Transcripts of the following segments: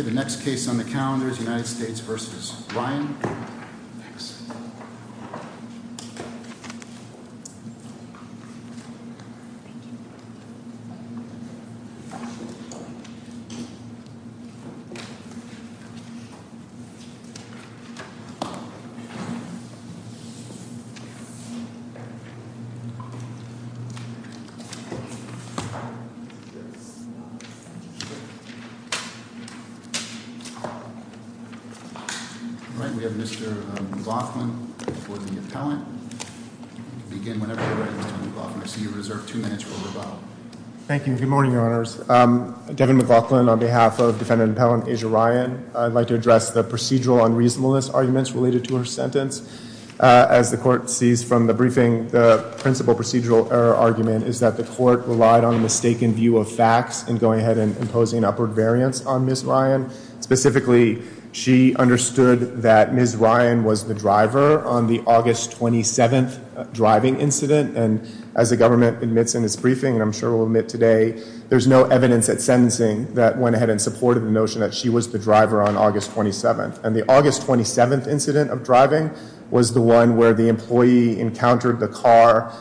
The next case on the calendar is United States v. Ryan. All right, we have Mr. McLaughlin for the appellant. You can begin whenever you're ready, Mr. McLaughlin. I see you reserved two minutes for rebuttal. Thank you. Good morning, Your Honors. Devin McLaughlin on behalf of Defendant Appellant Asia Ryan. I'd like to address the procedural unreasonableness arguments related to her sentence. As the court sees from the briefing, the principal procedural error argument is that the court relied on a mistaken view of facts in going ahead and imposing upward variance on Ms. Ryan. Specifically, she understood that Ms. Ryan was the driver on the August 27th driving incident. And as the government admits in its briefing, and I'm sure will admit today, there's no evidence at sentencing that went ahead and supported the notion that she was the driver on August 27th. And the August 27th incident of driving was the one where the employee encountered the car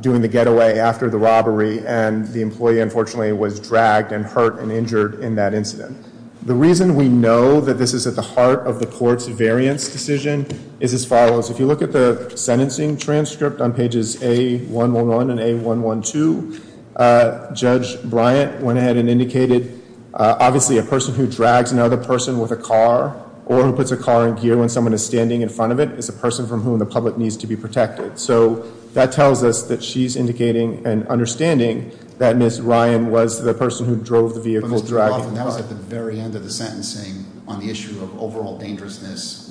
doing the getaway after the robbery. And the employee, unfortunately, was dragged and hurt and injured in that incident. The reason we know that this is at the heart of the court's variance decision is as follows. If you look at the sentencing transcript on pages A111 and A112, Judge Bryant went ahead and indicated, obviously, a person who drags another person with a car or who puts a car in gear when someone is standing in front of it is a person from whom the public needs to be protected. So that tells us that she's indicating and understanding that Ms. Ryan was the person who drove the vehicle, dragging the car. That was at the very end of the sentencing on the issue of overall dangerousness.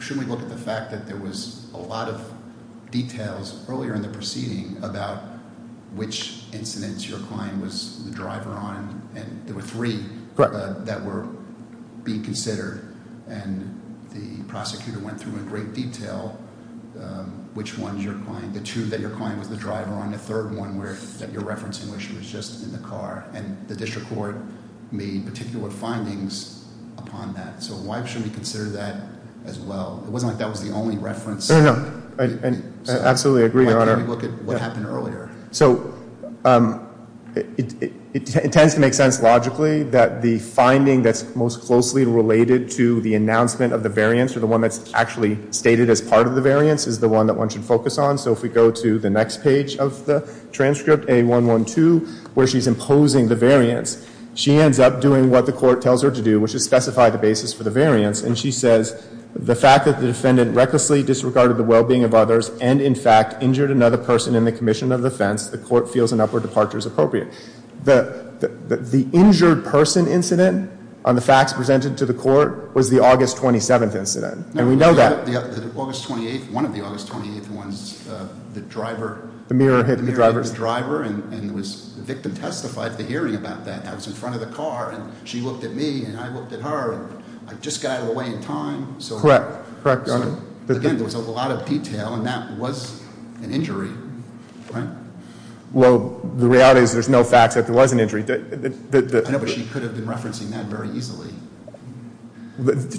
Shouldn't we look at the fact that there was a lot of details earlier in the proceeding about which incidents your client was the driver on? And there were three that were being considered. And the prosecutor went through in great detail which ones your client, the two that your client was the driver on, the third one that you're referencing where she was just in the car. And the district court made particular findings upon that. So why shouldn't we consider that as well? It wasn't like that was the only reference. I absolutely agree, Your Honor. Why can't we look at what happened earlier? So it tends to make sense logically that the finding that's most closely related to the announcement of the variance or the one that's actually stated as part of the variance is the one that one should focus on. So if we go to the next page of the transcript, A112, where she's imposing the variance, she ends up doing what the court tells her to do, which is specify the basis for the variance. And she says, the fact that the defendant recklessly disregarded the well-being of others and, in fact, injured another person in the commission of offense, the court feels an upward departure is appropriate. The injured person incident on the facts presented to the court was the August 27th incident. And we know that. The August 28th, one of the August 28th ones, the driver. The mirror hit the driver. The mirror hit the driver, and the victim testified to hearing about that. I was in front of the car, and she looked at me, and I looked at her, and I just got out of the way in time. Correct. Correct, Your Honor. Again, there was a lot of detail, and that was an injury, right? Well, the reality is there's no fact that there was an injury. I know, but she could have been referencing that very easily.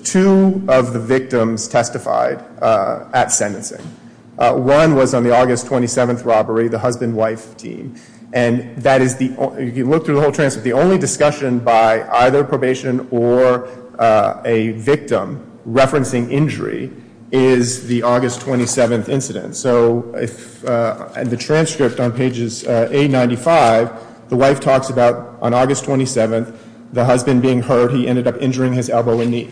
Two of the victims testified at sentencing. One was on the August 27th robbery, the husband-wife team. If you look through the whole transcript, the only discussion by either probation or a victim referencing injury is the August 27th incident. So the transcript on pages 895, the wife talks about on August 27th, the husband being hurt. He ended up injuring his elbow and knee.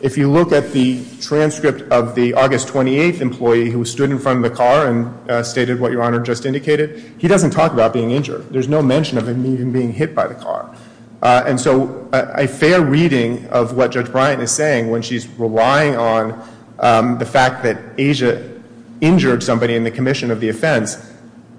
If you look at the transcript of the August 28th employee who stood in front of the car and stated what Your Honor just indicated, he doesn't talk about being injured. There's no mention of him being hit by the car. And so a fair reading of what Judge Bryant is saying when she's relying on the fact that Asia injured somebody in the commission of the offense,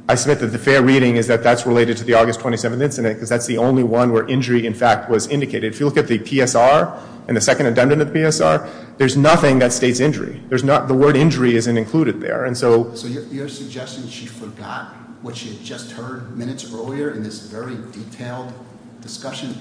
I submit that the fair reading is that that's related to the August 27th incident because that's the only one where injury, in fact, was indicated. If you look at the PSR and the second addendum to the PSR, there's nothing that states injury. The word injury isn't included there. So you're suggesting she forgot what she had just heard minutes earlier in this very detailed discussion?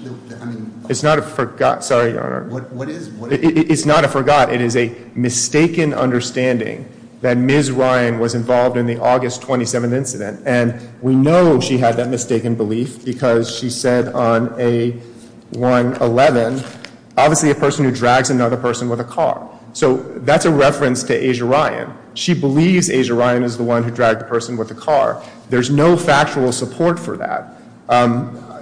It's not a forgot. Sorry, Your Honor. What is? It's not a forgot. It is a mistaken understanding that Ms. Ryan was involved in the August 27th incident. And we know she had that mistaken belief because she said on A111, obviously a person who drags another person with a car. So that's a reference to Asia Ryan. She believes Asia Ryan is the one who dragged the person with the car. There's no factual support for that.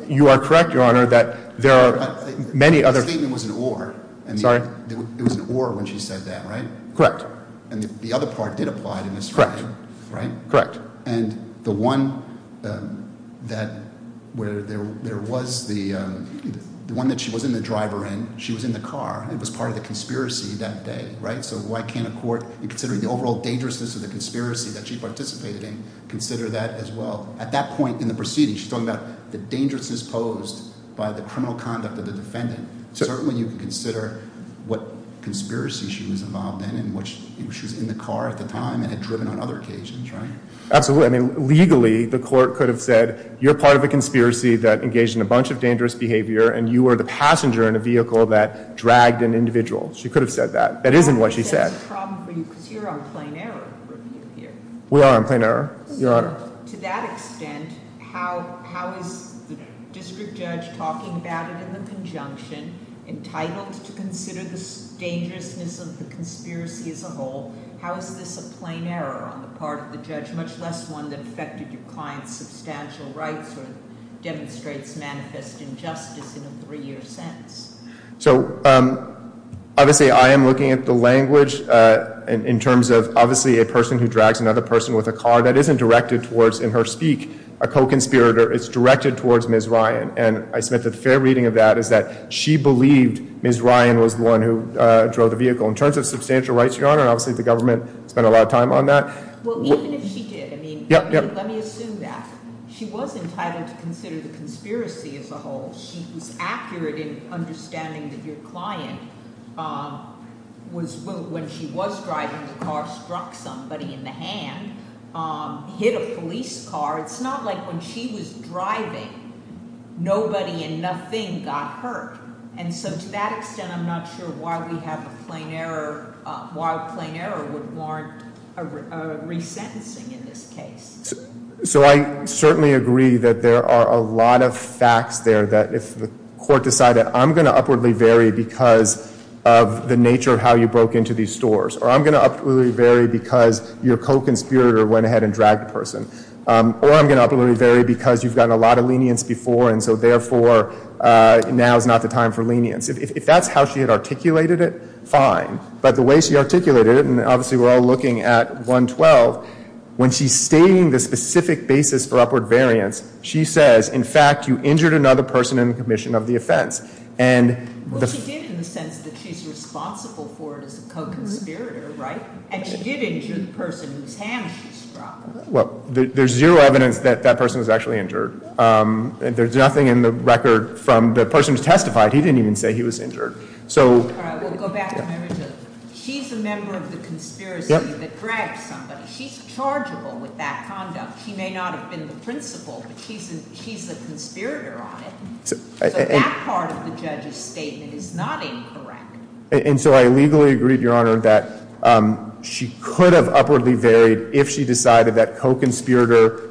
You are correct, Your Honor, that there are many other. The statement was an or. Sorry? It was an or when she said that, right? Correct. And the other part did apply to Ms. Ryan, right? Correct. And the one that where there was the one that she was in the driver in, she was in the car. It was part of the conspiracy that day, right? So why can't a court, in considering the overall dangerousness of the conspiracy that she participated in, consider that as well? At that point in the proceeding, she's talking about the dangerousness posed by the criminal conduct of the defendant. Certainly you can consider what conspiracy she was involved in, in which she was in the car at the time and had driven on other occasions, right? Absolutely. I mean, legally, the court could have said, you're part of a conspiracy that engaged in a bunch of dangerous behavior, and you were the passenger in a vehicle that dragged an individual. She could have said that. That isn't what she said. That's a problem for you, because you're on plain error review here. We are on plain error, Your Honor. To that extent, how is the district judge talking about it in the conjunction, entitled to consider the dangerousness of the conspiracy as a whole? How is this a plain error on the part of the judge, much less one that affected your client's substantial rights or demonstrates manifest injustice in a three-year sense? So obviously, I am looking at the language in terms of, obviously, a person who drags another person with a car. That isn't directed towards, in her speak, a co-conspirator. It's directed towards Ms. Ryan. And I submit that the fair reading of that is that she believed Ms. Ryan was the one who drove the vehicle. In terms of substantial rights, Your Honor, obviously the government spent a lot of time on that. Well, even if she did, I mean, let me assume that. She was entitled to consider the conspiracy as a whole. She was accurate in understanding that your client, when she was driving the car, struck somebody in the hand, hit a police car. It's not like when she was driving, nobody and nothing got hurt. And so to that extent, I'm not sure why we have a plain error, why a plain error would warrant a resentencing in this case. So I certainly agree that there are a lot of facts there that if the court decided, I'm going to upwardly vary because of the nature of how you broke into these stores, or I'm going to upwardly vary because your co-conspirator went ahead and dragged a person, or I'm going to upwardly vary because you've gotten a lot of lenience before, and so therefore, now is not the time for lenience. If that's how she had articulated it, fine. But the way she articulated it, and obviously we're all looking at 112, when she's stating the specific basis for upward variance, she says, in fact, you injured another person in the commission of the offense. Well, she did in the sense that she's responsible for it as a co-conspirator, right? And she did injure the person whose hand she struck. Well, there's zero evidence that that person was actually injured. There's nothing in the record from the person who testified. He didn't even say he was injured. All right, we'll go back to Mary Jo. She's a member of the conspiracy that dragged somebody. She's chargeable with that conduct. She may not have been the principal, but she's a conspirator on it. So that part of the judge's statement is not incorrect. And so I legally agree, Your Honor, that she could have upwardly varied if she decided that co-conspirator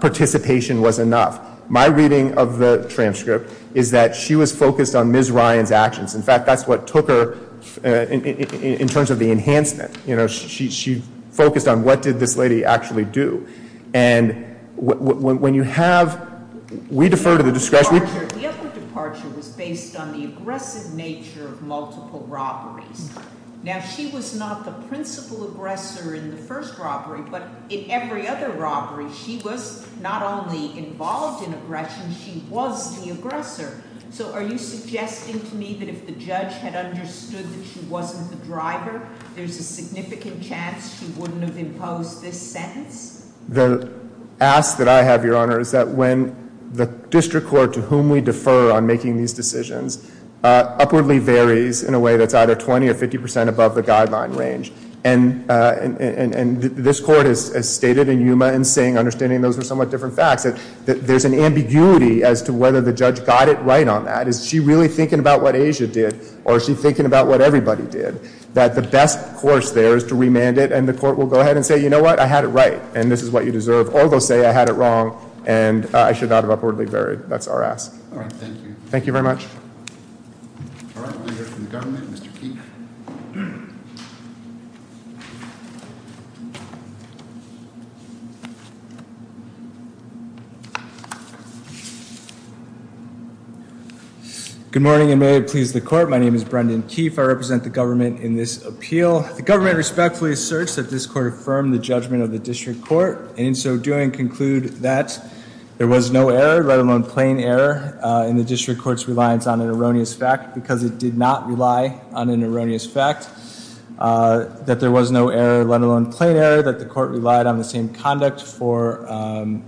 participation was enough. My reading of the transcript is that she was focused on Ms. Ryan's actions. In fact, that's what took her in terms of the enhancement. You know, she focused on what did this lady actually do. And when you have – we defer to the discretionary – The upward departure was based on the aggressive nature of multiple robberies. Now, she was not the principal aggressor in the first robbery, but in every other robbery she was not only involved in aggression, she was the aggressor. So are you suggesting to me that if the judge had understood that she wasn't the driver, there's a significant chance she wouldn't have imposed this sentence? The ask that I have, Your Honor, is that when the district court to whom we defer on making these decisions upwardly varies in a way that's either 20% or 50% above the guideline range. And this court has stated in Yuma and Singh, understanding those are somewhat different facts, that there's an ambiguity as to whether the judge got it right on that. Is she really thinking about what Asia did or is she thinking about what everybody did? That the best course there is to remand it and the court will go ahead and say, you know what, I had it right and this is what you deserve. Or they'll say I had it wrong and I should not have upwardly varied. That's our ask. All right, thank you. Thank you very much. All right, we'll hear from the government, Mr. Keefe. Good morning and may it please the court. My name is Brendan Keefe. I represent the government in this appeal. The government respectfully asserts that this court affirmed the judgment of the district court and in so doing conclude that there was no error, let alone plain error, in the district court's reliance on an erroneous fact because it did not rely on an erroneous fact. That there was no error, let alone plain error, that the court relied on the same conduct for an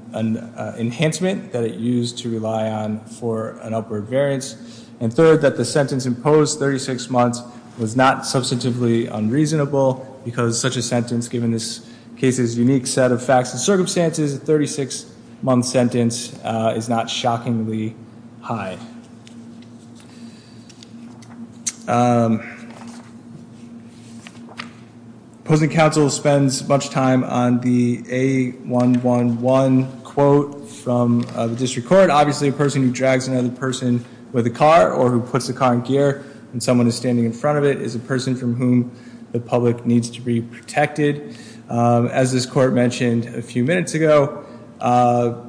enhancement that it used to rely on for an upward variance. And third, that the sentence imposed 36 months was not substantively unreasonable because such a sentence, given this case's unique set of facts and circumstances, a 36-month sentence is not shockingly high. Opposing counsel spends much time on the A111 quote from the district court. Obviously a person who drags another person with a car or who puts the car in gear and someone is standing in front of it is a person from whom the public needs to be protected. As this court mentioned a few minutes ago, a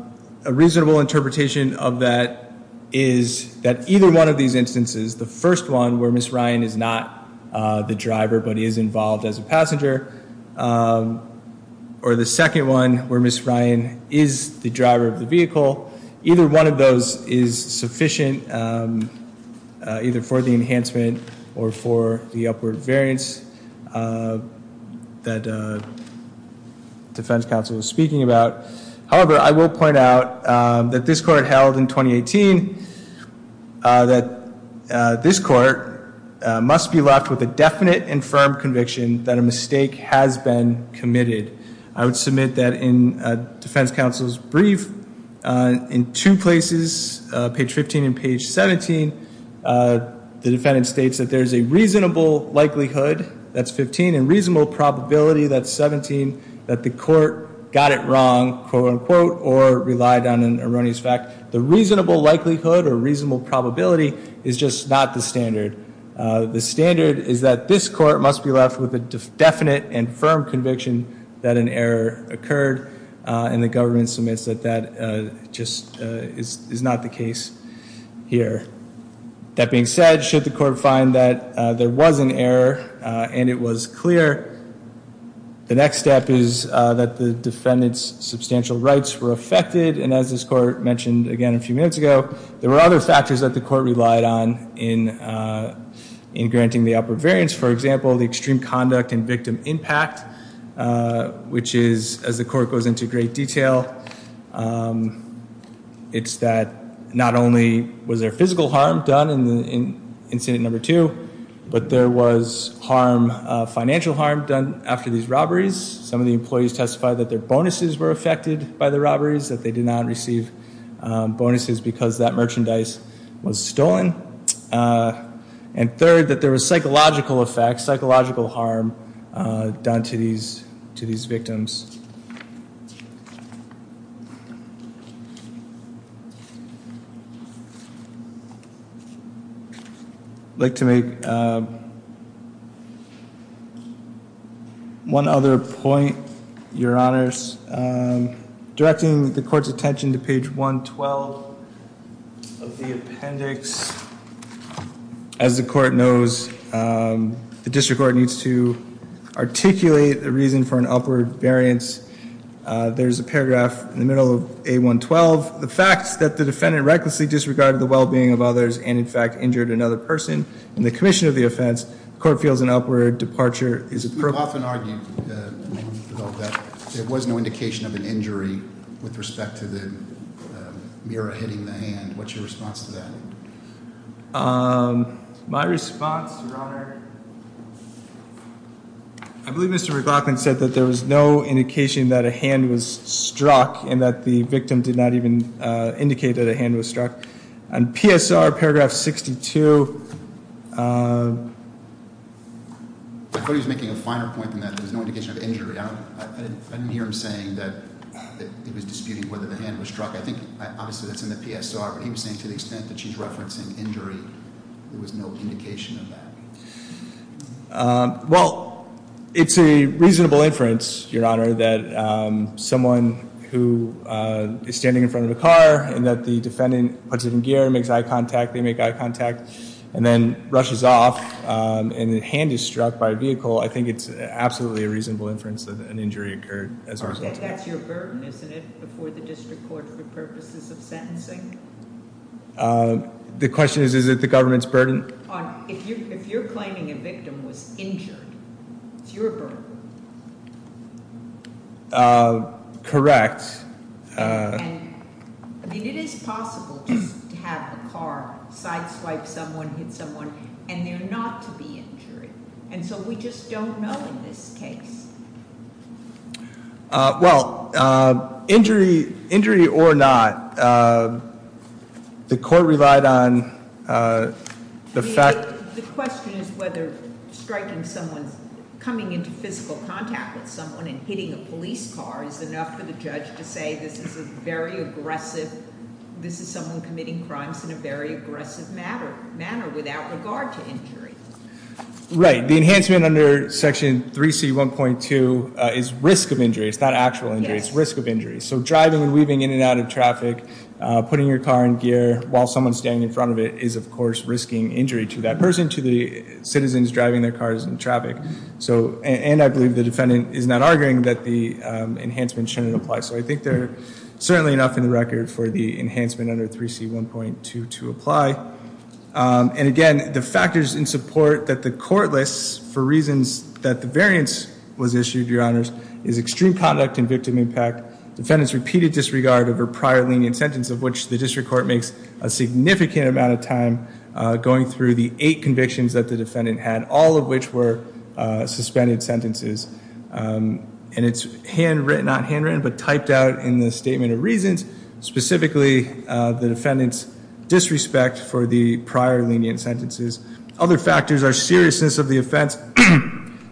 reasonable interpretation of that is that either one of these instances, the first one where Ms. Ryan is not the driver but is involved as a passenger, or the second one where Ms. Ryan is the driver of the vehicle, either one of those is sufficient either for the enhancement or for the upward variance that defense counsel is speaking about. However, I will point out that this court held in 2018 that this court must be left with a definite and firm conviction that a mistake has been committed. I would submit that in defense counsel's brief, in two places, page 15 and page 17, the defendant states that there is a reasonable likelihood, that's 15, and reasonable probability, that's 17, that the court got it wrong, quote unquote, or relied on an erroneous fact. The reasonable likelihood or reasonable probability is just not the standard. The standard is that this court must be left with a definite and firm conviction that an error occurred, and the government submits that that just is not the case here. That being said, should the court find that there was an error and it was clear, the next step is that the defendant's substantial rights were affected, and as this court mentioned again a few minutes ago, there were other factors that the court relied on in granting the upward variance. For example, the extreme conduct and victim impact, which is, as the court goes into great detail, it's that not only was there physical harm done in incident number two, but there was financial harm done after these robberies. Some of the employees testified that their bonuses were affected by the robberies, that they did not receive bonuses because that merchandise was stolen. And third, that there was psychological effects, psychological harm done to these victims. I'd like to make one other point, Your Honors. Directing the court's attention to page 112 of the appendix, as the court knows, the district court needs to articulate a reason for an upward variance. There's a paragraph in the middle of A112, the facts that the defendant recklessly disregarded the well-being of others and, in fact, injured another person in the commission of the offense. The court feels an upward departure is appropriate. We've often argued, though, that there was no indication of an injury with respect to the mirror hitting the hand. What's your response to that? My response, Your Honor, I believe Mr. McLaughlin said that there was no indication that a hand was struck and that the victim did not even indicate that a hand was struck. On PSR, paragraph 62, I thought he was making a finer point than that. There was no indication of injury. I didn't hear him saying that he was disputing whether the hand was struck. I think, obviously, that's in the PSR, but he was saying to the extent that she's referencing injury, there was no indication of that. Well, it's a reasonable inference, Your Honor, that someone who is standing in front of a car and that the defendant puts it in gear and makes eye contact, they make eye contact, and then rushes off and the hand is struck by a vehicle, I think it's absolutely a reasonable inference that an injury occurred as a result of that. That's your burden, isn't it, before the district court for purposes of sentencing? The question is, is it the government's burden? If you're claiming a victim was injured, it's your burden. Correct. I mean, it is possible just to have a car sideswipe someone, hit someone, and they're not to be injured. And so we just don't know in this case. Well, injury or not, the court relied on the fact- The question is whether striking someone, coming into physical contact with someone and hitting a police car is enough for the judge to say this is a very aggressive, this is someone committing crimes in a very aggressive manner without regard to injury. Right. The enhancement under section 3C1.2 is risk of injury. It's not actual injury. It's risk of injury. So driving and weaving in and out of traffic, putting your car in gear while someone's standing in front of it is, of course, risking injury to that person, to the citizens driving their cars in traffic. And I believe the defendant is not arguing that the enhancement shouldn't apply. So I think there's certainly enough in the record for the enhancement under 3C1.2 to apply. And again, the factors in support that the court lists for reasons that the variance was issued, Your Honors, is extreme conduct and victim impact, defendant's repeated disregard of her prior lenient sentence, of which the district court makes a significant amount of time going through the eight convictions that the defendant had, all of which were suspended sentences. And it's handwritten, not handwritten, but typed out in the statement of reasons, specifically the defendant's disrespect for the prior lenient sentences. Other factors are seriousness of the offense,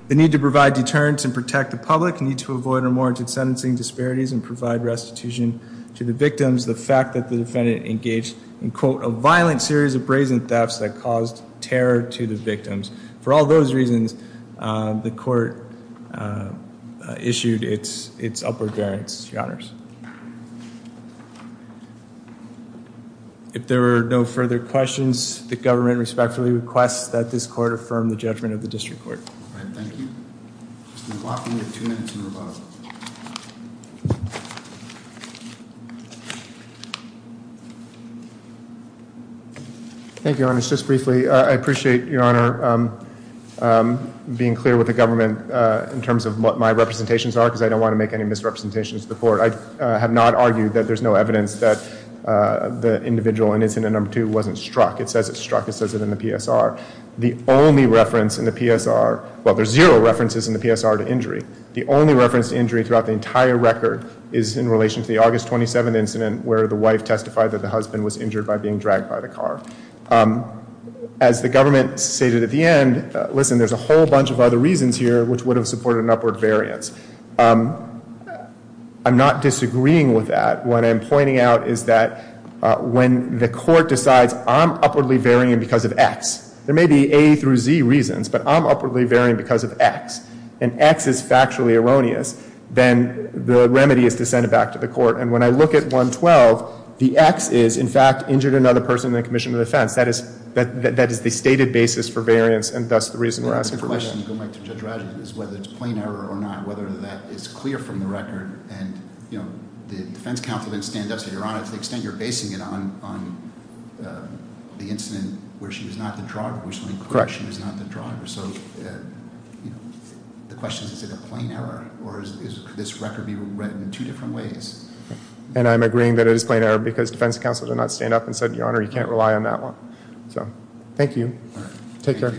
the need to provide deterrence and protect the public, need to avoid or warranted sentencing disparities and provide restitution to the victims, the fact that the defendant engaged in, quote, a violent series of brazen thefts that caused terror to the victims. For all those reasons, the court issued its upward variance, Your Honors. If there are no further questions, the government respectfully requests that this court affirm the judgment of the district court. All right. Thank you. Mr. McLaughlin, you have two minutes and rebuttal. Thank you, Your Honors. Just briefly, I appreciate, Your Honor, being clear with the government in terms of what my representations are because I don't want to make any misrepresentations to the court. I have not argued that there's no evidence that the individual in incident number two wasn't struck. It says it's struck. It says it in the PSR. The only reference in the PSR, well, there's zero references in the PSR to injury. The only reference to injury throughout the entire record is in relation to the August 27 incident where the wife testified that the husband was injured by being dragged by the car. As the government stated at the end, listen, there's a whole bunch of other reasons here which would have supported an upward variance. I'm not disagreeing with that. What I'm pointing out is that when the court decides I'm upwardly varying because of X, there may be A through Z reasons, but I'm upwardly varying because of X, and X is factually erroneous, and when I look at 112, the X is, in fact, injured another person in the commission of defense. That is the stated basis for variance, and thus the reason we're asking for variance. Whether it's plain error or not, whether that is clear from the record, and, you know, the defense counsel didn't stand up and say, Your Honor, to the extent you're basing it on the incident where she was not the driver. So the question is, is it a plain error, or could this record be read in two different ways? And I'm agreeing that it is plain error because defense counsel did not stand up and say, Your Honor, you can't rely on that one. So thank you. Take care.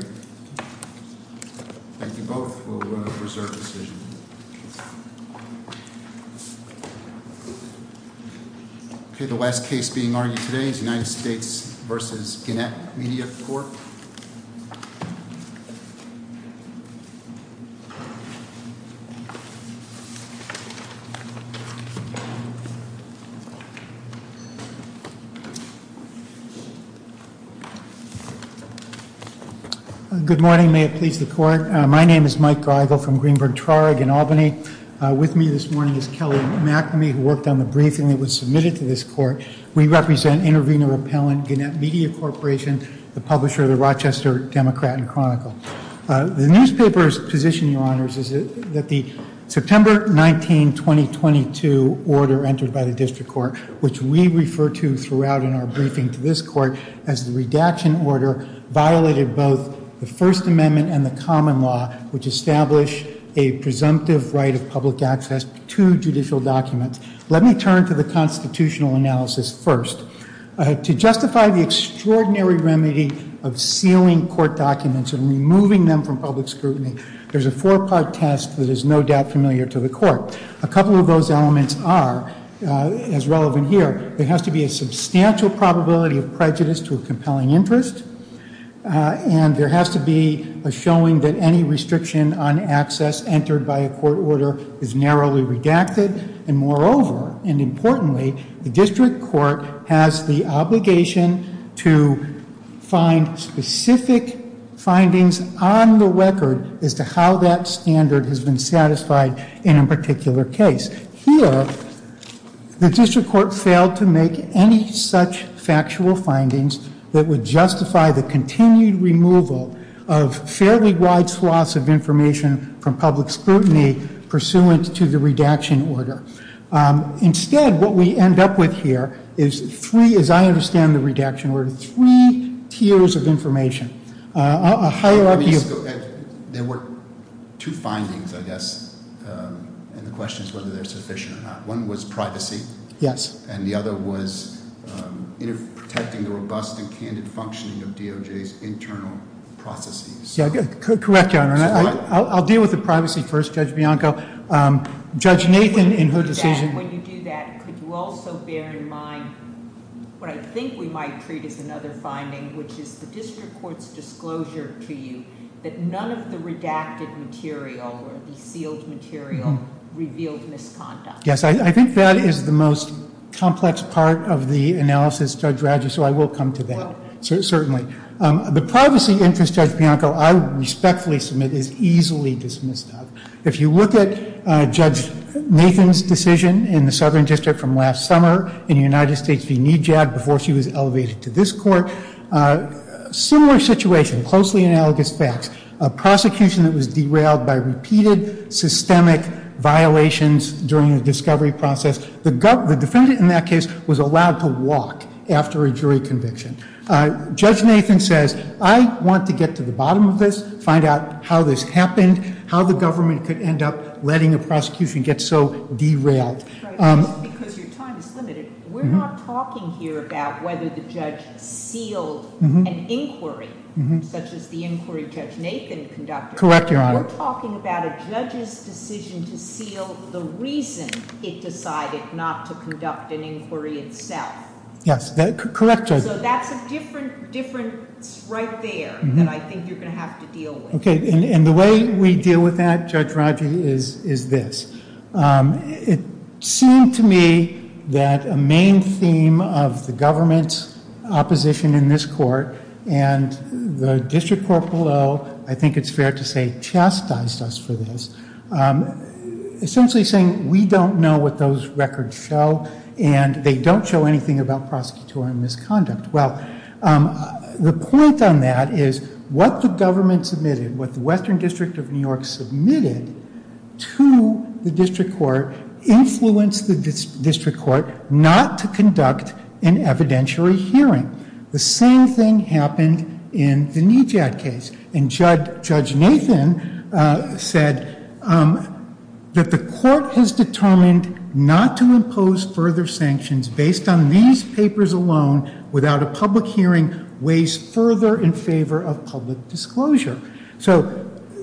Thank you both. We'll reserve the decision. Okay. The last case being argued today is United States v. Gannett Media Corp. Good morning. May it please the court. My name is Mike Greigel from Greenberg Traurig in Albany. With me this morning is Kelly McNamee, who worked on the briefing that was submitted to this court. We represent Intervenor Repellent, Gannett Media Corporation, the publisher of the Rochester Democrat and Chronicle. The newspaper's position, Your Honors, is that the September 19, 2022 order entered by the district court, which we refer to throughout in our briefing to this court as the redaction order, violated both the First Amendment and the common law, which establish a presumptive right of public access to judicial documents. Let me turn to the constitutional analysis first. To justify the extraordinary remedy of sealing court documents and removing them from public scrutiny, there's a four-part test that is no doubt familiar to the court. A couple of those elements are, as relevant here, there has to be a substantial probability of prejudice to a compelling interest, and there has to be a showing that any restriction on access entered by a court order is narrowly redacted. And moreover, and importantly, the district court has the obligation to find specific findings on the record as to how that standard has been satisfied in a particular case. Here, the district court failed to make any such factual findings that would justify the continued removal of fairly wide swaths of information from public scrutiny pursuant to the redaction order. Instead, what we end up with here is three, as I understand the redaction order, three tiers of information. There were two findings, I guess, and the question is whether they're sufficient or not. One was privacy. Yes. And the other was protecting the robust and candid functioning of DOJ's internal processes. Correct, Your Honor. I'll deal with the privacy first, Judge Bianco. Judge Nathan in her decision When you do that, could you also bear in mind what I think we might treat as another finding, which is the district court's disclosure to you that none of the redacted material or the sealed material revealed misconduct? Yes. I think that is the most complex part of the analysis, Judge Radjo, so I will come to that. Certainly. The privacy interest, Judge Bianco, I respectfully submit is easily dismissed. If you look at Judge Nathan's decision in the Southern District from last summer in the United States v. NEJAD before she was elevated to this court, similar situation, closely analogous facts. A prosecution that was derailed by repeated systemic violations during the discovery process. The defendant in that case was allowed to walk after a jury conviction. Judge Nathan says, I want to get to the bottom of this, find out how this happened, how the government could end up letting a prosecution get so derailed. Just because your time is limited, we're not talking here about whether the judge sealed an inquiry, such as the inquiry Judge Nathan conducted. Correct, Your Honor. We're talking about a judge's decision to seal the reason it decided not to conduct an inquiry itself. Yes. Correct, Judge. So that's a difference right there that I think you're going to have to deal with. Okay, and the way we deal with that, Judge Rodger, is this. It seemed to me that a main theme of the government's opposition in this court and the district court below, I think it's fair to say, chastised us for this. Essentially saying we don't know what those records show and they don't show anything about prosecutorial misconduct. Well, the point on that is what the government submitted, what the Western District of New York submitted to the district court, influenced the district court not to conduct an evidentiary hearing. The same thing happened in the Nijad case. And Judge Nathan said that the court has determined not to impose further sanctions based on these papers alone without a public hearing weighs further in favor of public disclosure. So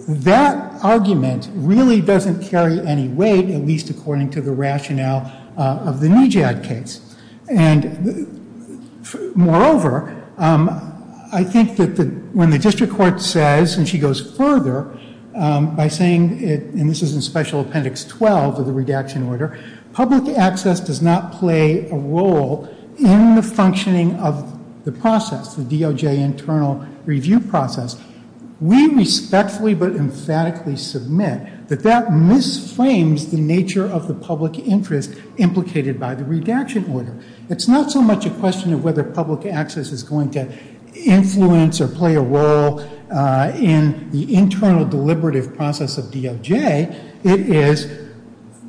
that argument really doesn't carry any weight, at least according to the rationale of the Nijad case. And moreover, I think that when the district court says, and she goes further, by saying, and this is in Special Appendix 12 of the redaction order, public access does not play a role in the functioning of the process, the DOJ internal review process. We respectfully but emphatically submit that that misframes the nature of the public interest implicated by the redaction order. It's not so much a question of whether public access is going to influence or play a role in the internal deliberative process of DOJ. It is,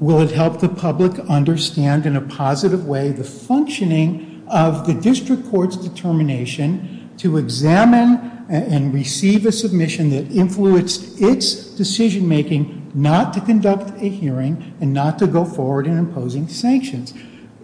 will it help the public understand in a positive way the functioning of the district court's determination to examine and receive a submission that influenced its decision making not to conduct a hearing and not to go forward in imposing sanctions.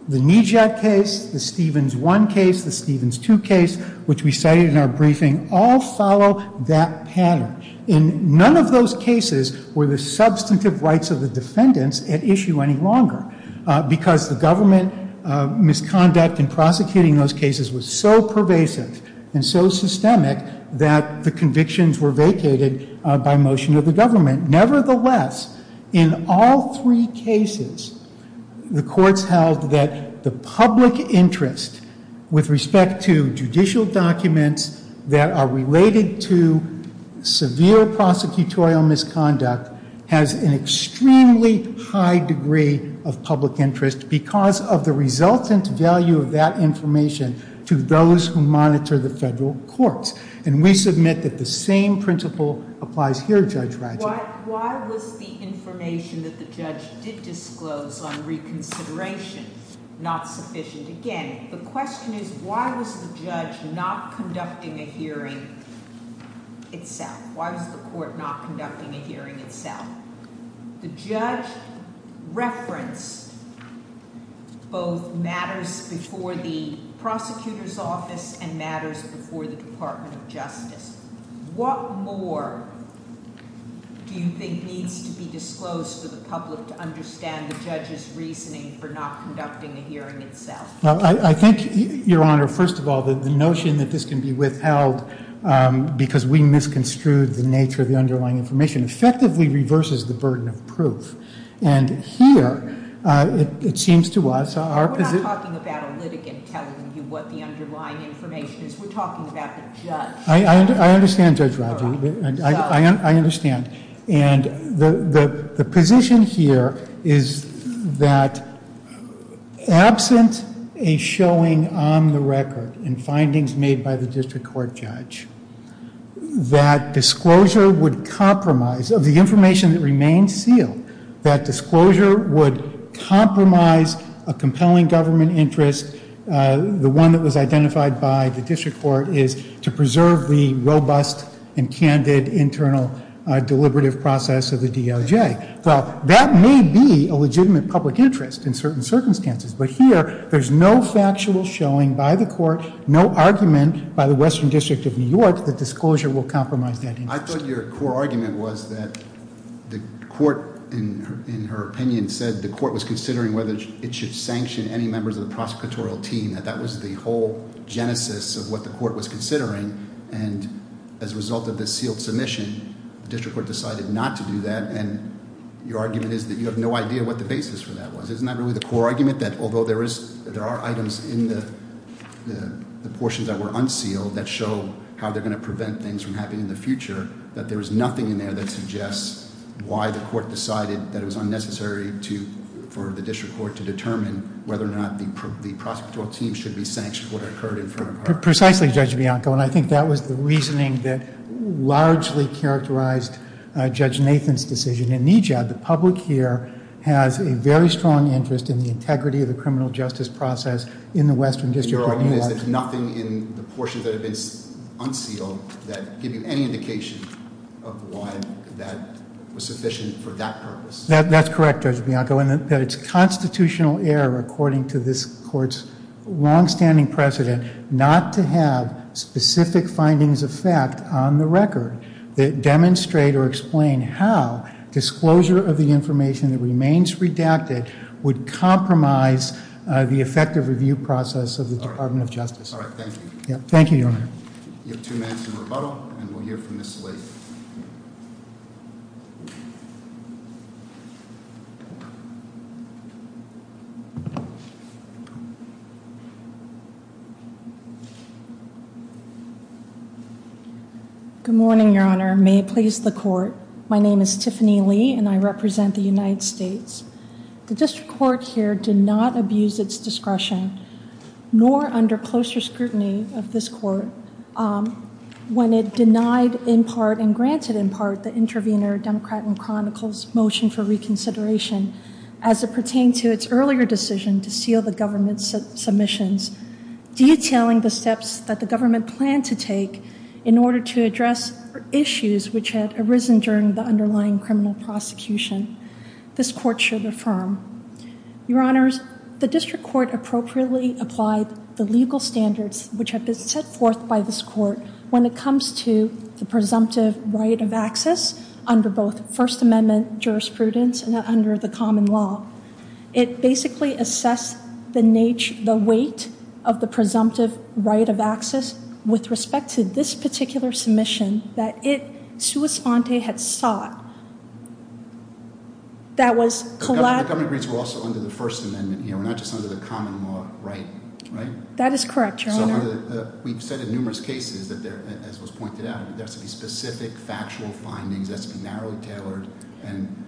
The Nijad case, the Stevens 1 case, the Stevens 2 case, which we cited in our briefing, all follow that pattern. And none of those cases were the substantive rights of the defendants at issue any longer because the government misconduct in prosecuting those cases was so pervasive and so systemic that the convictions were vacated by motion of the government. Nevertheless, in all three cases, the courts held that the public interest with respect to judicial documents that are related to severe prosecutorial misconduct has an extremely high degree of public interest because of the resultant value of that information to those who monitor the federal courts. And we submit that the same principle applies here, Judge Ratzlaff. Why was the information that the judge did disclose on reconsideration not sufficient? Again, the question is why was the judge not conducting a hearing itself? Why was the court not conducting a hearing itself? The judge referenced both matters before the prosecutor's office and matters before the Department of Justice. What more do you think needs to be disclosed to the public to understand the judge's reasoning for not conducting a hearing itself? I think, Your Honor, first of all, the notion that this can be withheld because we misconstrued the nature of the underlying information effectively reverses the burden of proof. And here, it seems to us our position... We're not talking about a litigant telling you what the underlying information is. We're talking about the judge. I understand, Judge Rodger. I understand. And the position here is that absent a showing on the record in findings made by the district court judge that disclosure would compromise... Of the information that remains sealed, that disclosure would compromise a compelling government interest. The one that was identified by the district court is to preserve the robust and candid internal deliberative process of the DOJ. Well, that may be a legitimate public interest in certain circumstances. But here, there's no factual showing by the court, no argument by the Western District of New York that disclosure will compromise that interest. I thought your core argument was that the court, in her opinion, said the court was considering whether it should sanction any members of the prosecutorial team. That that was the whole genesis of what the court was considering. And as a result of this sealed submission, the district court decided not to do that. And your argument is that you have no idea what the basis for that was. Isn't that really the core argument? That although there are items in the portions that were unsealed that show how they're going to prevent things from happening in the future, that there is nothing in there that suggests why the court decided that it was unnecessary for the district court to determine whether or not the prosecutorial team should be sanctioned for what occurred in front of her. Precisely, Judge Bianco. And I think that was the reasoning that largely characterized Judge Nathan's decision. In EJAB, the public here has a very strong interest in the integrity of the criminal justice process in the Western District of New York. Your argument is that nothing in the portions that have been unsealed that give you any indication of why that was sufficient for that purpose. That's correct, Judge Bianco. And that it's constitutional error, according to this court's longstanding precedent, not to have specific findings of fact on the record that demonstrate or explain how disclosure of the information that remains redacted would compromise the effective review process of the Department of Justice. All right, thank you. Thank you, Your Honor. You have two minutes in rebuttal, and we'll hear from Ms. Slate. Good morning, Your Honor. May it please the court. My name is Tiffany Lee, and I represent the United States. The district court here did not abuse its discretion, nor under closer scrutiny of this court, when it denied in part and granted in part the intervener Democrat and Chronicle's motion for reconsideration as it pertained to its earlier decision to seal the government's submissions. Detailing the steps that the government planned to take in order to address issues which had arisen during the underlying criminal prosecution, this court should affirm. Your Honors, the district court appropriately applied the legal standards which have been set forth by this court when it comes to the presumptive right of access under both First Amendment jurisprudence and under the common law. It basically assessed the weight of the presumptive right of access with respect to this particular submission that it, sua sponte, had sought. The government agrees we're also under the First Amendment here. We're not just under the common law, right? That is correct, Your Honor. We've said in numerous cases, as was pointed out, that there has to be specific factual findings, that has to be narrowly tailored. And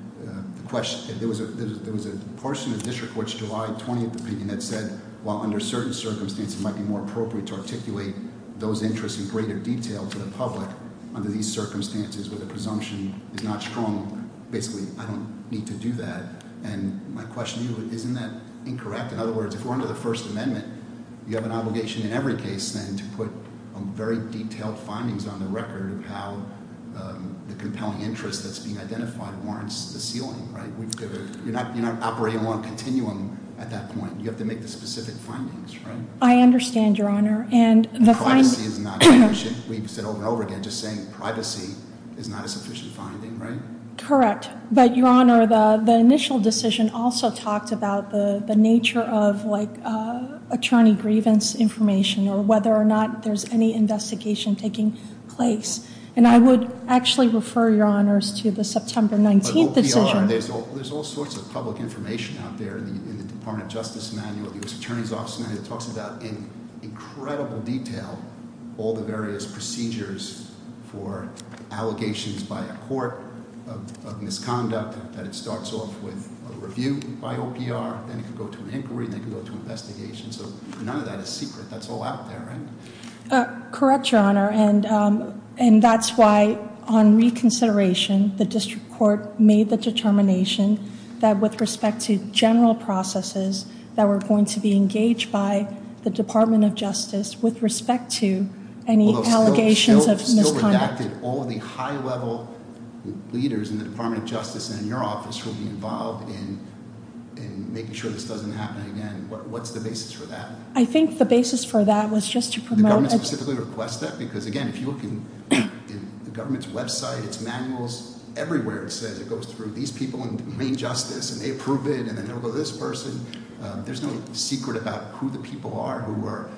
there was a portion of the district court's July 20th opinion that said, while under certain circumstances it might be more appropriate to articulate those interests in greater detail to the public, under these circumstances where the presumption is not strong, basically, I don't need to do that. And my question to you is, isn't that incorrect? In other words, if we're under the First Amendment, you have an obligation in every case, then, to put very detailed findings on the record of how the compelling interest that's being identified warrants the ceiling, right? You're not operating on a continuum at that point. You have to make the specific findings, right? I understand, Your Honor. Privacy is not sufficient. We've said over and over again, just saying privacy is not a sufficient finding, right? Correct. But, Your Honor, the initial decision also talked about the nature of, like, attorney grievance information, or whether or not there's any investigation taking place. And I would actually refer, Your Honors, to the September 19th decision. But OPR, there's all sorts of public information out there in the Department of Justice manual. The U.S. Attorney's Office manual talks about, in incredible detail, all the various procedures for allegations by a court of misconduct, that it starts off with a review by OPR, then it can go to an inquiry, then it can go to an investigation. So, none of that is secret. That's all out there, right? Correct, Your Honor, and that's why, on reconsideration, the district court made the determination that with respect to general processes that were going to be engaged by the Department of Justice with respect to any allegations of misconduct. Although still redacted, all the high-level leaders in the Department of Justice and in your office will be involved in making sure this doesn't happen again. What's the basis for that? I think the basis for that was just to promote... The government specifically requests that? Because, again, if you look in the government's website, its manuals, everywhere it says it goes through these people in domain justice, and they approve it, and then they'll go to this person. There's no secret about who the people are who are,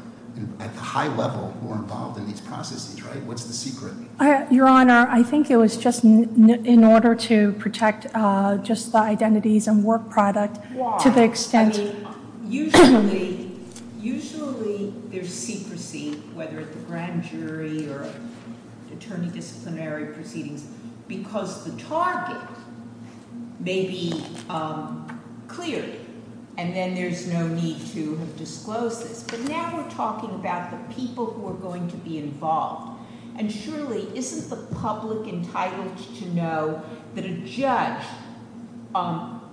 at the high level, who are involved in these processes, right? What's the secret? Your Honor, I think it was just in order to protect just the identities and work product to the extent... Usually there's secrecy, whether at the grand jury or attorney disciplinary proceedings, because the target may be clear, and then there's no need to disclose this. But now we're talking about the people who are going to be involved, and surely isn't the public entitled to know that a judge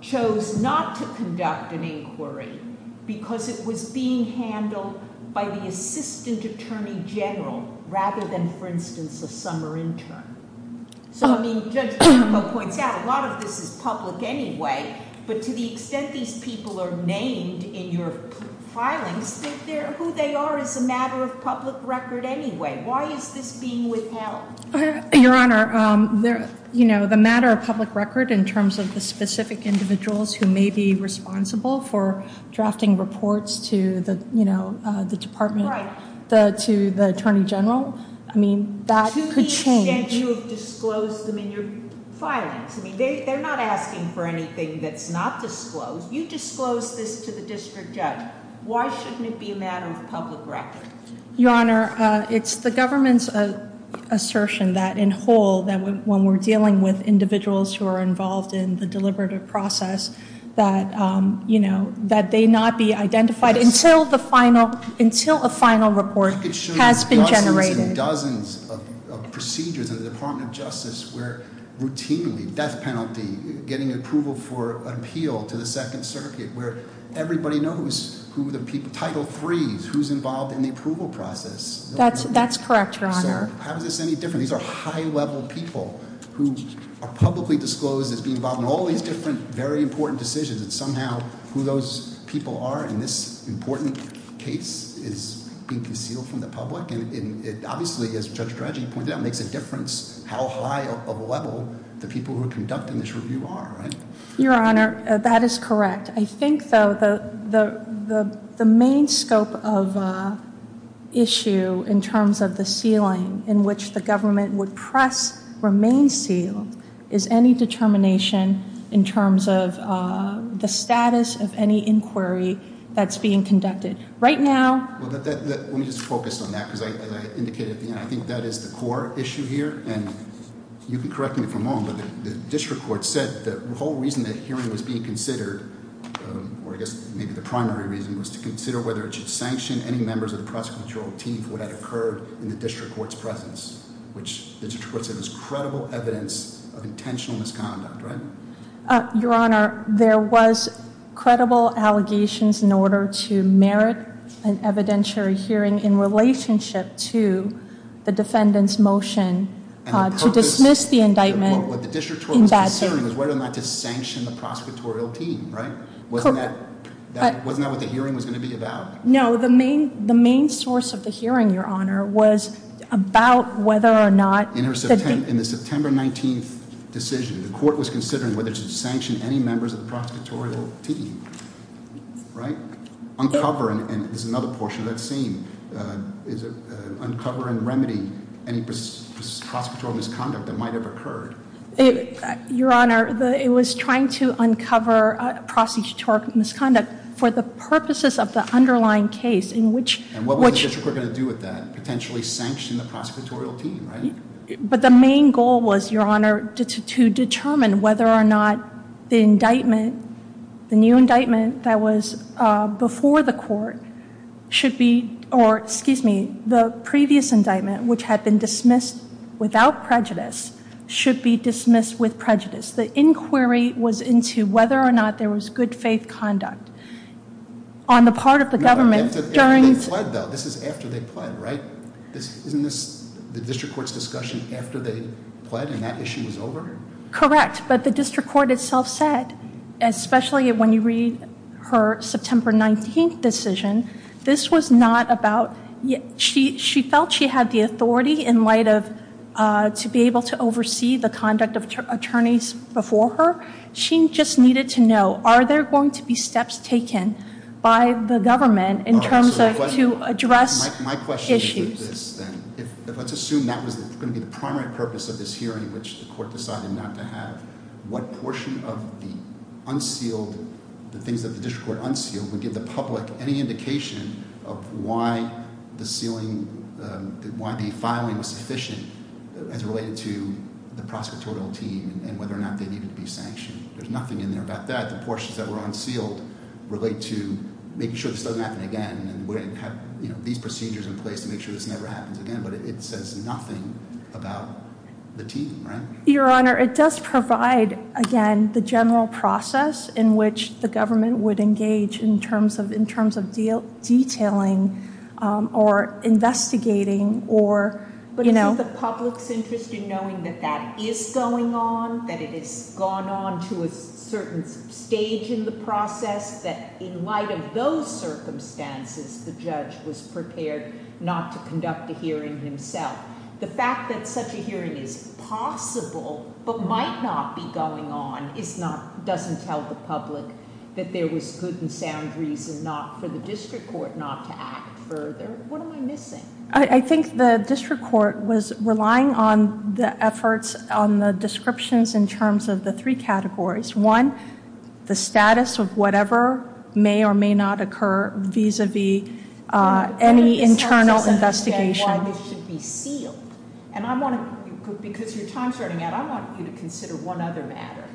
chose not to conduct an inquiry because it was being handled by the assistant attorney general rather than, for instance, a summer intern. So, I mean, Judge Turco points out a lot of this is public anyway, but to the extent these people are named in your filings, who they are is a matter of public record anyway. Why is this being withheld? Your Honor, the matter of public record in terms of the specific individuals who may be responsible for drafting reports to the department, to the attorney general, I mean, that could change. To the extent you have disclosed them in your filings. I mean, they're not asking for anything that's not disclosed. You disclosed this to the district judge. Why shouldn't it be a matter of public record? Your Honor, it's the government's assertion that in whole, that when we're dealing with individuals who are involved in the deliberative process, that they not be identified until the final, until a final report has been generated. I could show you dozens and dozens of procedures in the Department of Justice where routinely, death penalty, getting approval for an appeal to the Second Circuit, where everybody knows who the people, Title III, who's involved in the approval process. That's correct, Your Honor. So how is this any different? These are high-level people who are publicly disclosed as being involved in all these different, very important decisions. And somehow, who those people are in this important case is being concealed from the public. And it obviously, as Judge Dredge pointed out, makes a difference how high of a level the people who are conducting this review are, right? Your Honor, that is correct. I think, though, the main scope of issue in terms of the sealing, in which the government would press remains sealed, is any determination in terms of the status of any inquiry that's being conducted. Right now... Let me just focus on that, because as I indicated at the end, I think that is the core issue here. And you can correct me if I'm wrong, but the district court said the whole reason the hearing was being considered, or I guess maybe the primary reason, was to consider whether it should sanction any members of the prosecutorial team for what had occurred in the district court's presence, which the district court said was credible evidence of intentional misconduct, right? Your Honor, there was credible allegations in order to merit an evidentiary hearing in relationship to the defendant's motion to dismiss the indictment. What the district court was considering was whether or not to sanction the prosecutorial team, right? Wasn't that what the hearing was going to be about? No, the main source of the hearing, Your Honor, was about whether or not... In the September 19th decision, the court was considering whether to sanction any members of the prosecutorial team, right? Uncover, and this is another portion of that same, uncover and remedy any prosecutorial misconduct that might have occurred. Your Honor, it was trying to uncover prosecutorial misconduct for the purposes of the underlying case in which... And what was the district court going to do with that? Potentially sanction the prosecutorial team, right? But the main goal was, Your Honor, to determine whether or not the indictment, the new indictment that was before the court should be... Or, excuse me, the previous indictment, which had been dismissed without prejudice, should be dismissed with prejudice. The inquiry was into whether or not there was good faith conduct on the part of the government during... Your Honor, they pled, though. This is after they pled, right? Isn't this the district court's discussion after they pled and that issue was over? Correct, but the district court itself said, especially when you read her September 19th decision, this was not about... She felt she had the authority in light of to be able to oversee the conduct of attorneys before her. She just needed to know, are there going to be steps taken by the government in terms of to address issues? Let's assume that was going to be the primary purpose of this hearing, which the court decided not to have. What portion of the unsealed, the things that the district court unsealed, would give the public any indication of why the sealing, why the filing was sufficient as related to the prosecutorial team and whether or not they needed to be sanctioned? There's nothing in there about that. The portions that were unsealed relate to making sure this doesn't happen again and have these procedures in place to make sure this never happens again, but it says nothing about the team, right? Your Honor, it does provide, again, the general process in which the government would engage in terms of detailing or investigating or... But isn't the public's interest in knowing that that is going on, that it has gone on to a certain stage in the process, that in light of those circumstances, the judge was prepared not to conduct a hearing himself? The fact that such a hearing is possible but might not be going on doesn't tell the public that there was good and sound reason for the district court not to act further. What am I missing? I think the district court was relying on the efforts on the descriptions in terms of the three categories. One, the status of whatever may or may not occur vis-a-vis any internal investigation. Why this should be sealed, and I want to, because your time's running out, I want you to consider one other matter.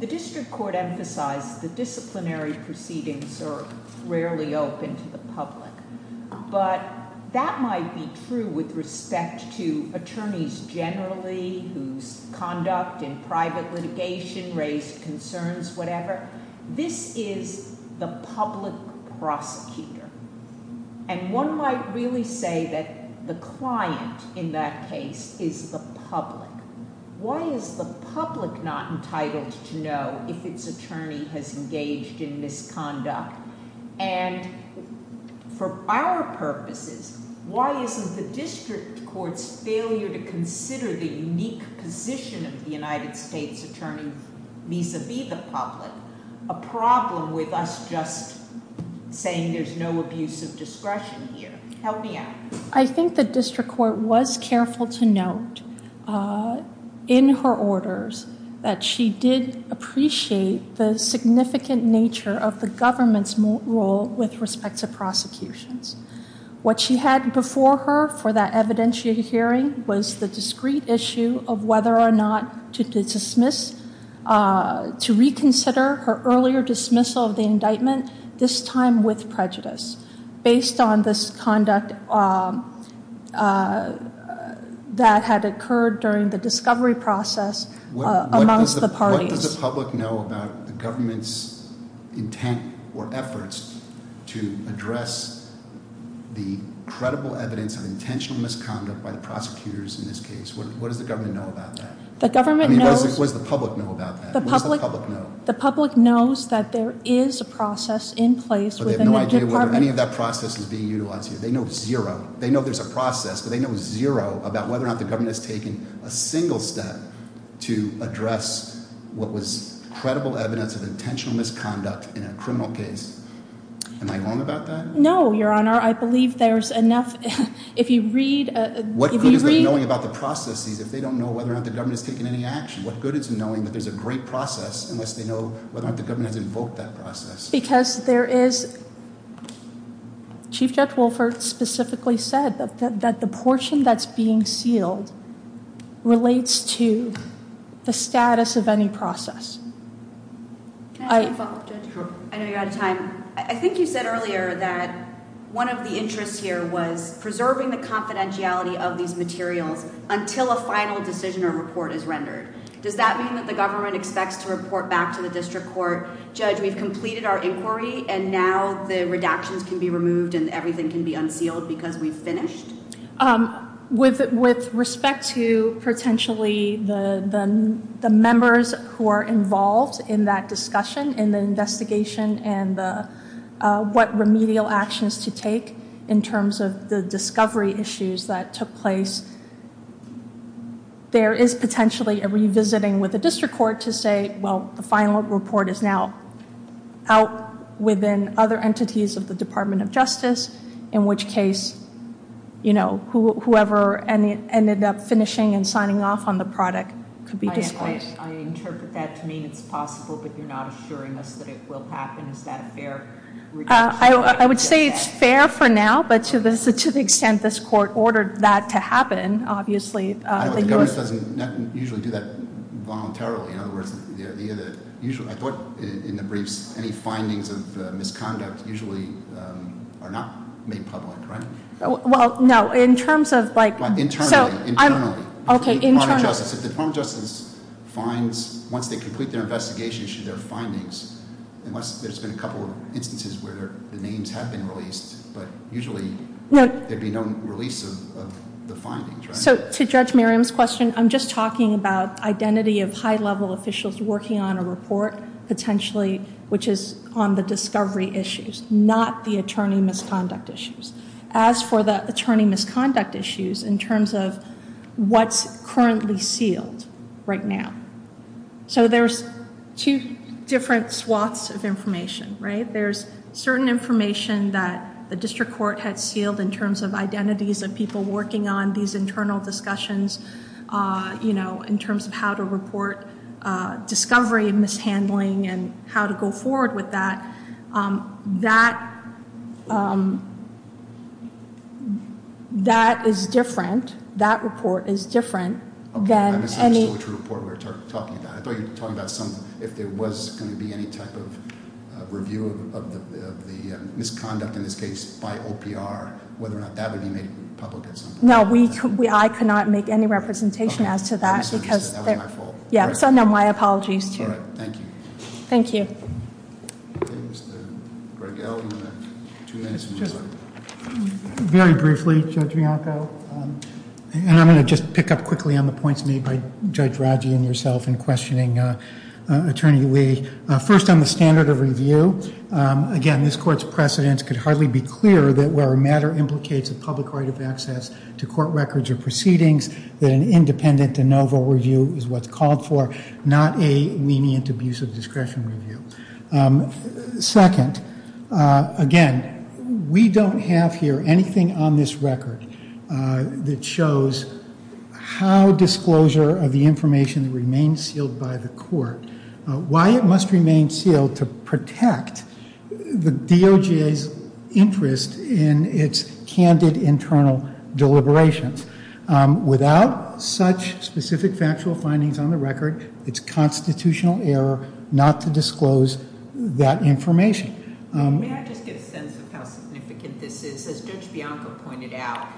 The district court emphasized the disciplinary proceedings are rarely open to the public, but that might be true with respect to attorneys generally whose conduct in private litigation raised concerns, whatever. This is the public prosecutor, and one might really say that the client in that case is the public. Why is the public not entitled to know if its attorney has engaged in misconduct? And for our purposes, why isn't the district court's failure to consider the unique position of the United States attorney vis-a-vis the public a problem with us just saying there's no abuse of discretion here? Help me out. I think the district court was careful to note in her orders that she did appreciate the significant nature of the government's role with respect to prosecutions. What she had before her for that evidentiary hearing was the discreet issue of whether or not to dismiss, to reconsider her earlier dismissal of the indictment, this time with prejudice, based on this conduct that had occurred during the discovery process amongst the parties. What does the public know about the government's intent or efforts to address the credible evidence of intentional misconduct by the prosecutors in this case? What does the government know about that? The government knows- What does the public know about that? What does the public know? The public knows that there is a process in place within the department- But they have no idea whether any of that process is being utilized here. They know zero. They know there's a process, but they know zero about whether or not the government has taken a single step to address what was credible evidence of intentional misconduct in a criminal case. Am I wrong about that? No, Your Honor. I believe there's enough- If you read- What good is there knowing about the processes if they don't know whether or not the government has taken any action? What good is knowing that there's a great process unless they know whether or not the government has invoked that process? Because there is- Chief Judge Wolfert specifically said that the portion that's being sealed relates to the status of any process. Can I ask a follow-up, Judge? Sure. I know you're out of time. I think you said earlier that one of the interests here was preserving the confidentiality of these materials until a final decision or report is rendered. Does that mean that the government expects to report back to the district court, Judge, we've completed our inquiry, and now the redactions can be removed and everything can be unsealed because we've finished? With respect to potentially the members who are involved in that discussion in the investigation and what remedial actions to take in terms of the discovery issues that took place, there is potentially a revisiting with the district court to say, well, the final report is now out within other entities of the Department of Justice, in which case, you know, whoever ended up finishing and signing off on the product could be discouraged. I interpret that to mean it's possible, but you're not assuring us that it will happen. Is that a fair- I would say it's fair for now, but to the extent this court ordered that to happen, obviously, the U.S. The government doesn't usually do that voluntarily. In other words, I thought in the briefs any findings of misconduct usually are not made public, right? Well, no, in terms of like- Internally, internally. Okay, internally. If the Department of Justice finds, once they complete their investigation issue, their findings, unless there's been a couple of instances where the names have been released, but usually there'd be no release of the findings, right? So to Judge Merriam's question, I'm just talking about identity of high-level officials working on a report, potentially, which is on the discovery issues, not the attorney misconduct issues. As for the attorney misconduct issues in terms of what's currently sealed right now. So there's two different swaths of information, right? There's certain information that the district court had sealed in terms of identities of people working on these internal discussions, you know, in terms of how to report discovery and mishandling and how to go forward with that. That is different. That report is different than any- Okay, I misunderstood which report we were talking about. I thought you were talking about if there was going to be any type of review of the misconduct in this case by OPR, whether or not that would be made public at some point. No, I could not make any representation as to that because- Okay, I misunderstood. That was my fault. Yeah, so no, my apologies too. All right, thank you. Thank you. Okay, Mr. Greggel, you have two minutes. Very briefly, Judge Bianco. And I'm going to just pick up quickly on the points made by Judge Raji and yourself in questioning Attorney Lee. First, on the standard of review, again, this court's precedence could hardly be clearer that where a matter implicates a public right of access to court records or proceedings, that an independent de novo review is what's called for, not a lenient, abusive discretion review. Second, again, we don't have here anything on this record that shows how disclosure of the information remains sealed by the court, why it must remain sealed to protect the DOJ's interest in its candid internal deliberations. Without such specific factual findings on the record, it's constitutional error not to disclose that information. May I just get a sense of how significant this is? As Judge Bianco pointed out,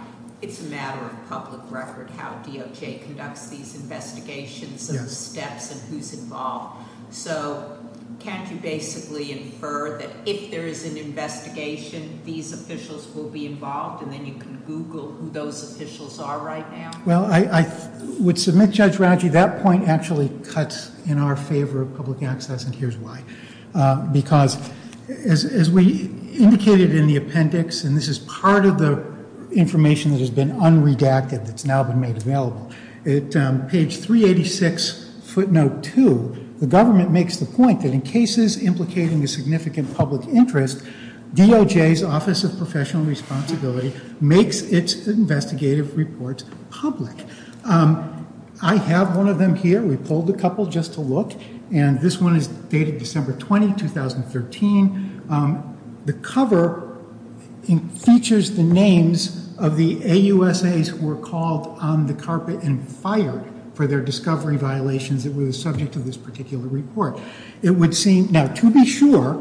it's a matter of public record how DOJ conducts these investigations and steps and who's involved. So can't you basically infer that if there is an investigation, these officials will be involved and then you can Google who those officials are right now? Well, I would submit, Judge Raji, that point actually cuts in our favor of public access, and here's why. Because as we indicated in the appendix, and this is part of the information that has been unredacted that's now been made available, at page 386, footnote 2, the government makes the point that in cases implicating a significant public interest, DOJ's Office of Professional Responsibility makes its investigative reports public. I have one of them here. We pulled a couple just to look, and this one is dated December 20, 2013. The cover features the names of the AUSAs who were called on the carpet and fired for their discovery violations that were the subject of this particular report. It would seem, now to be sure.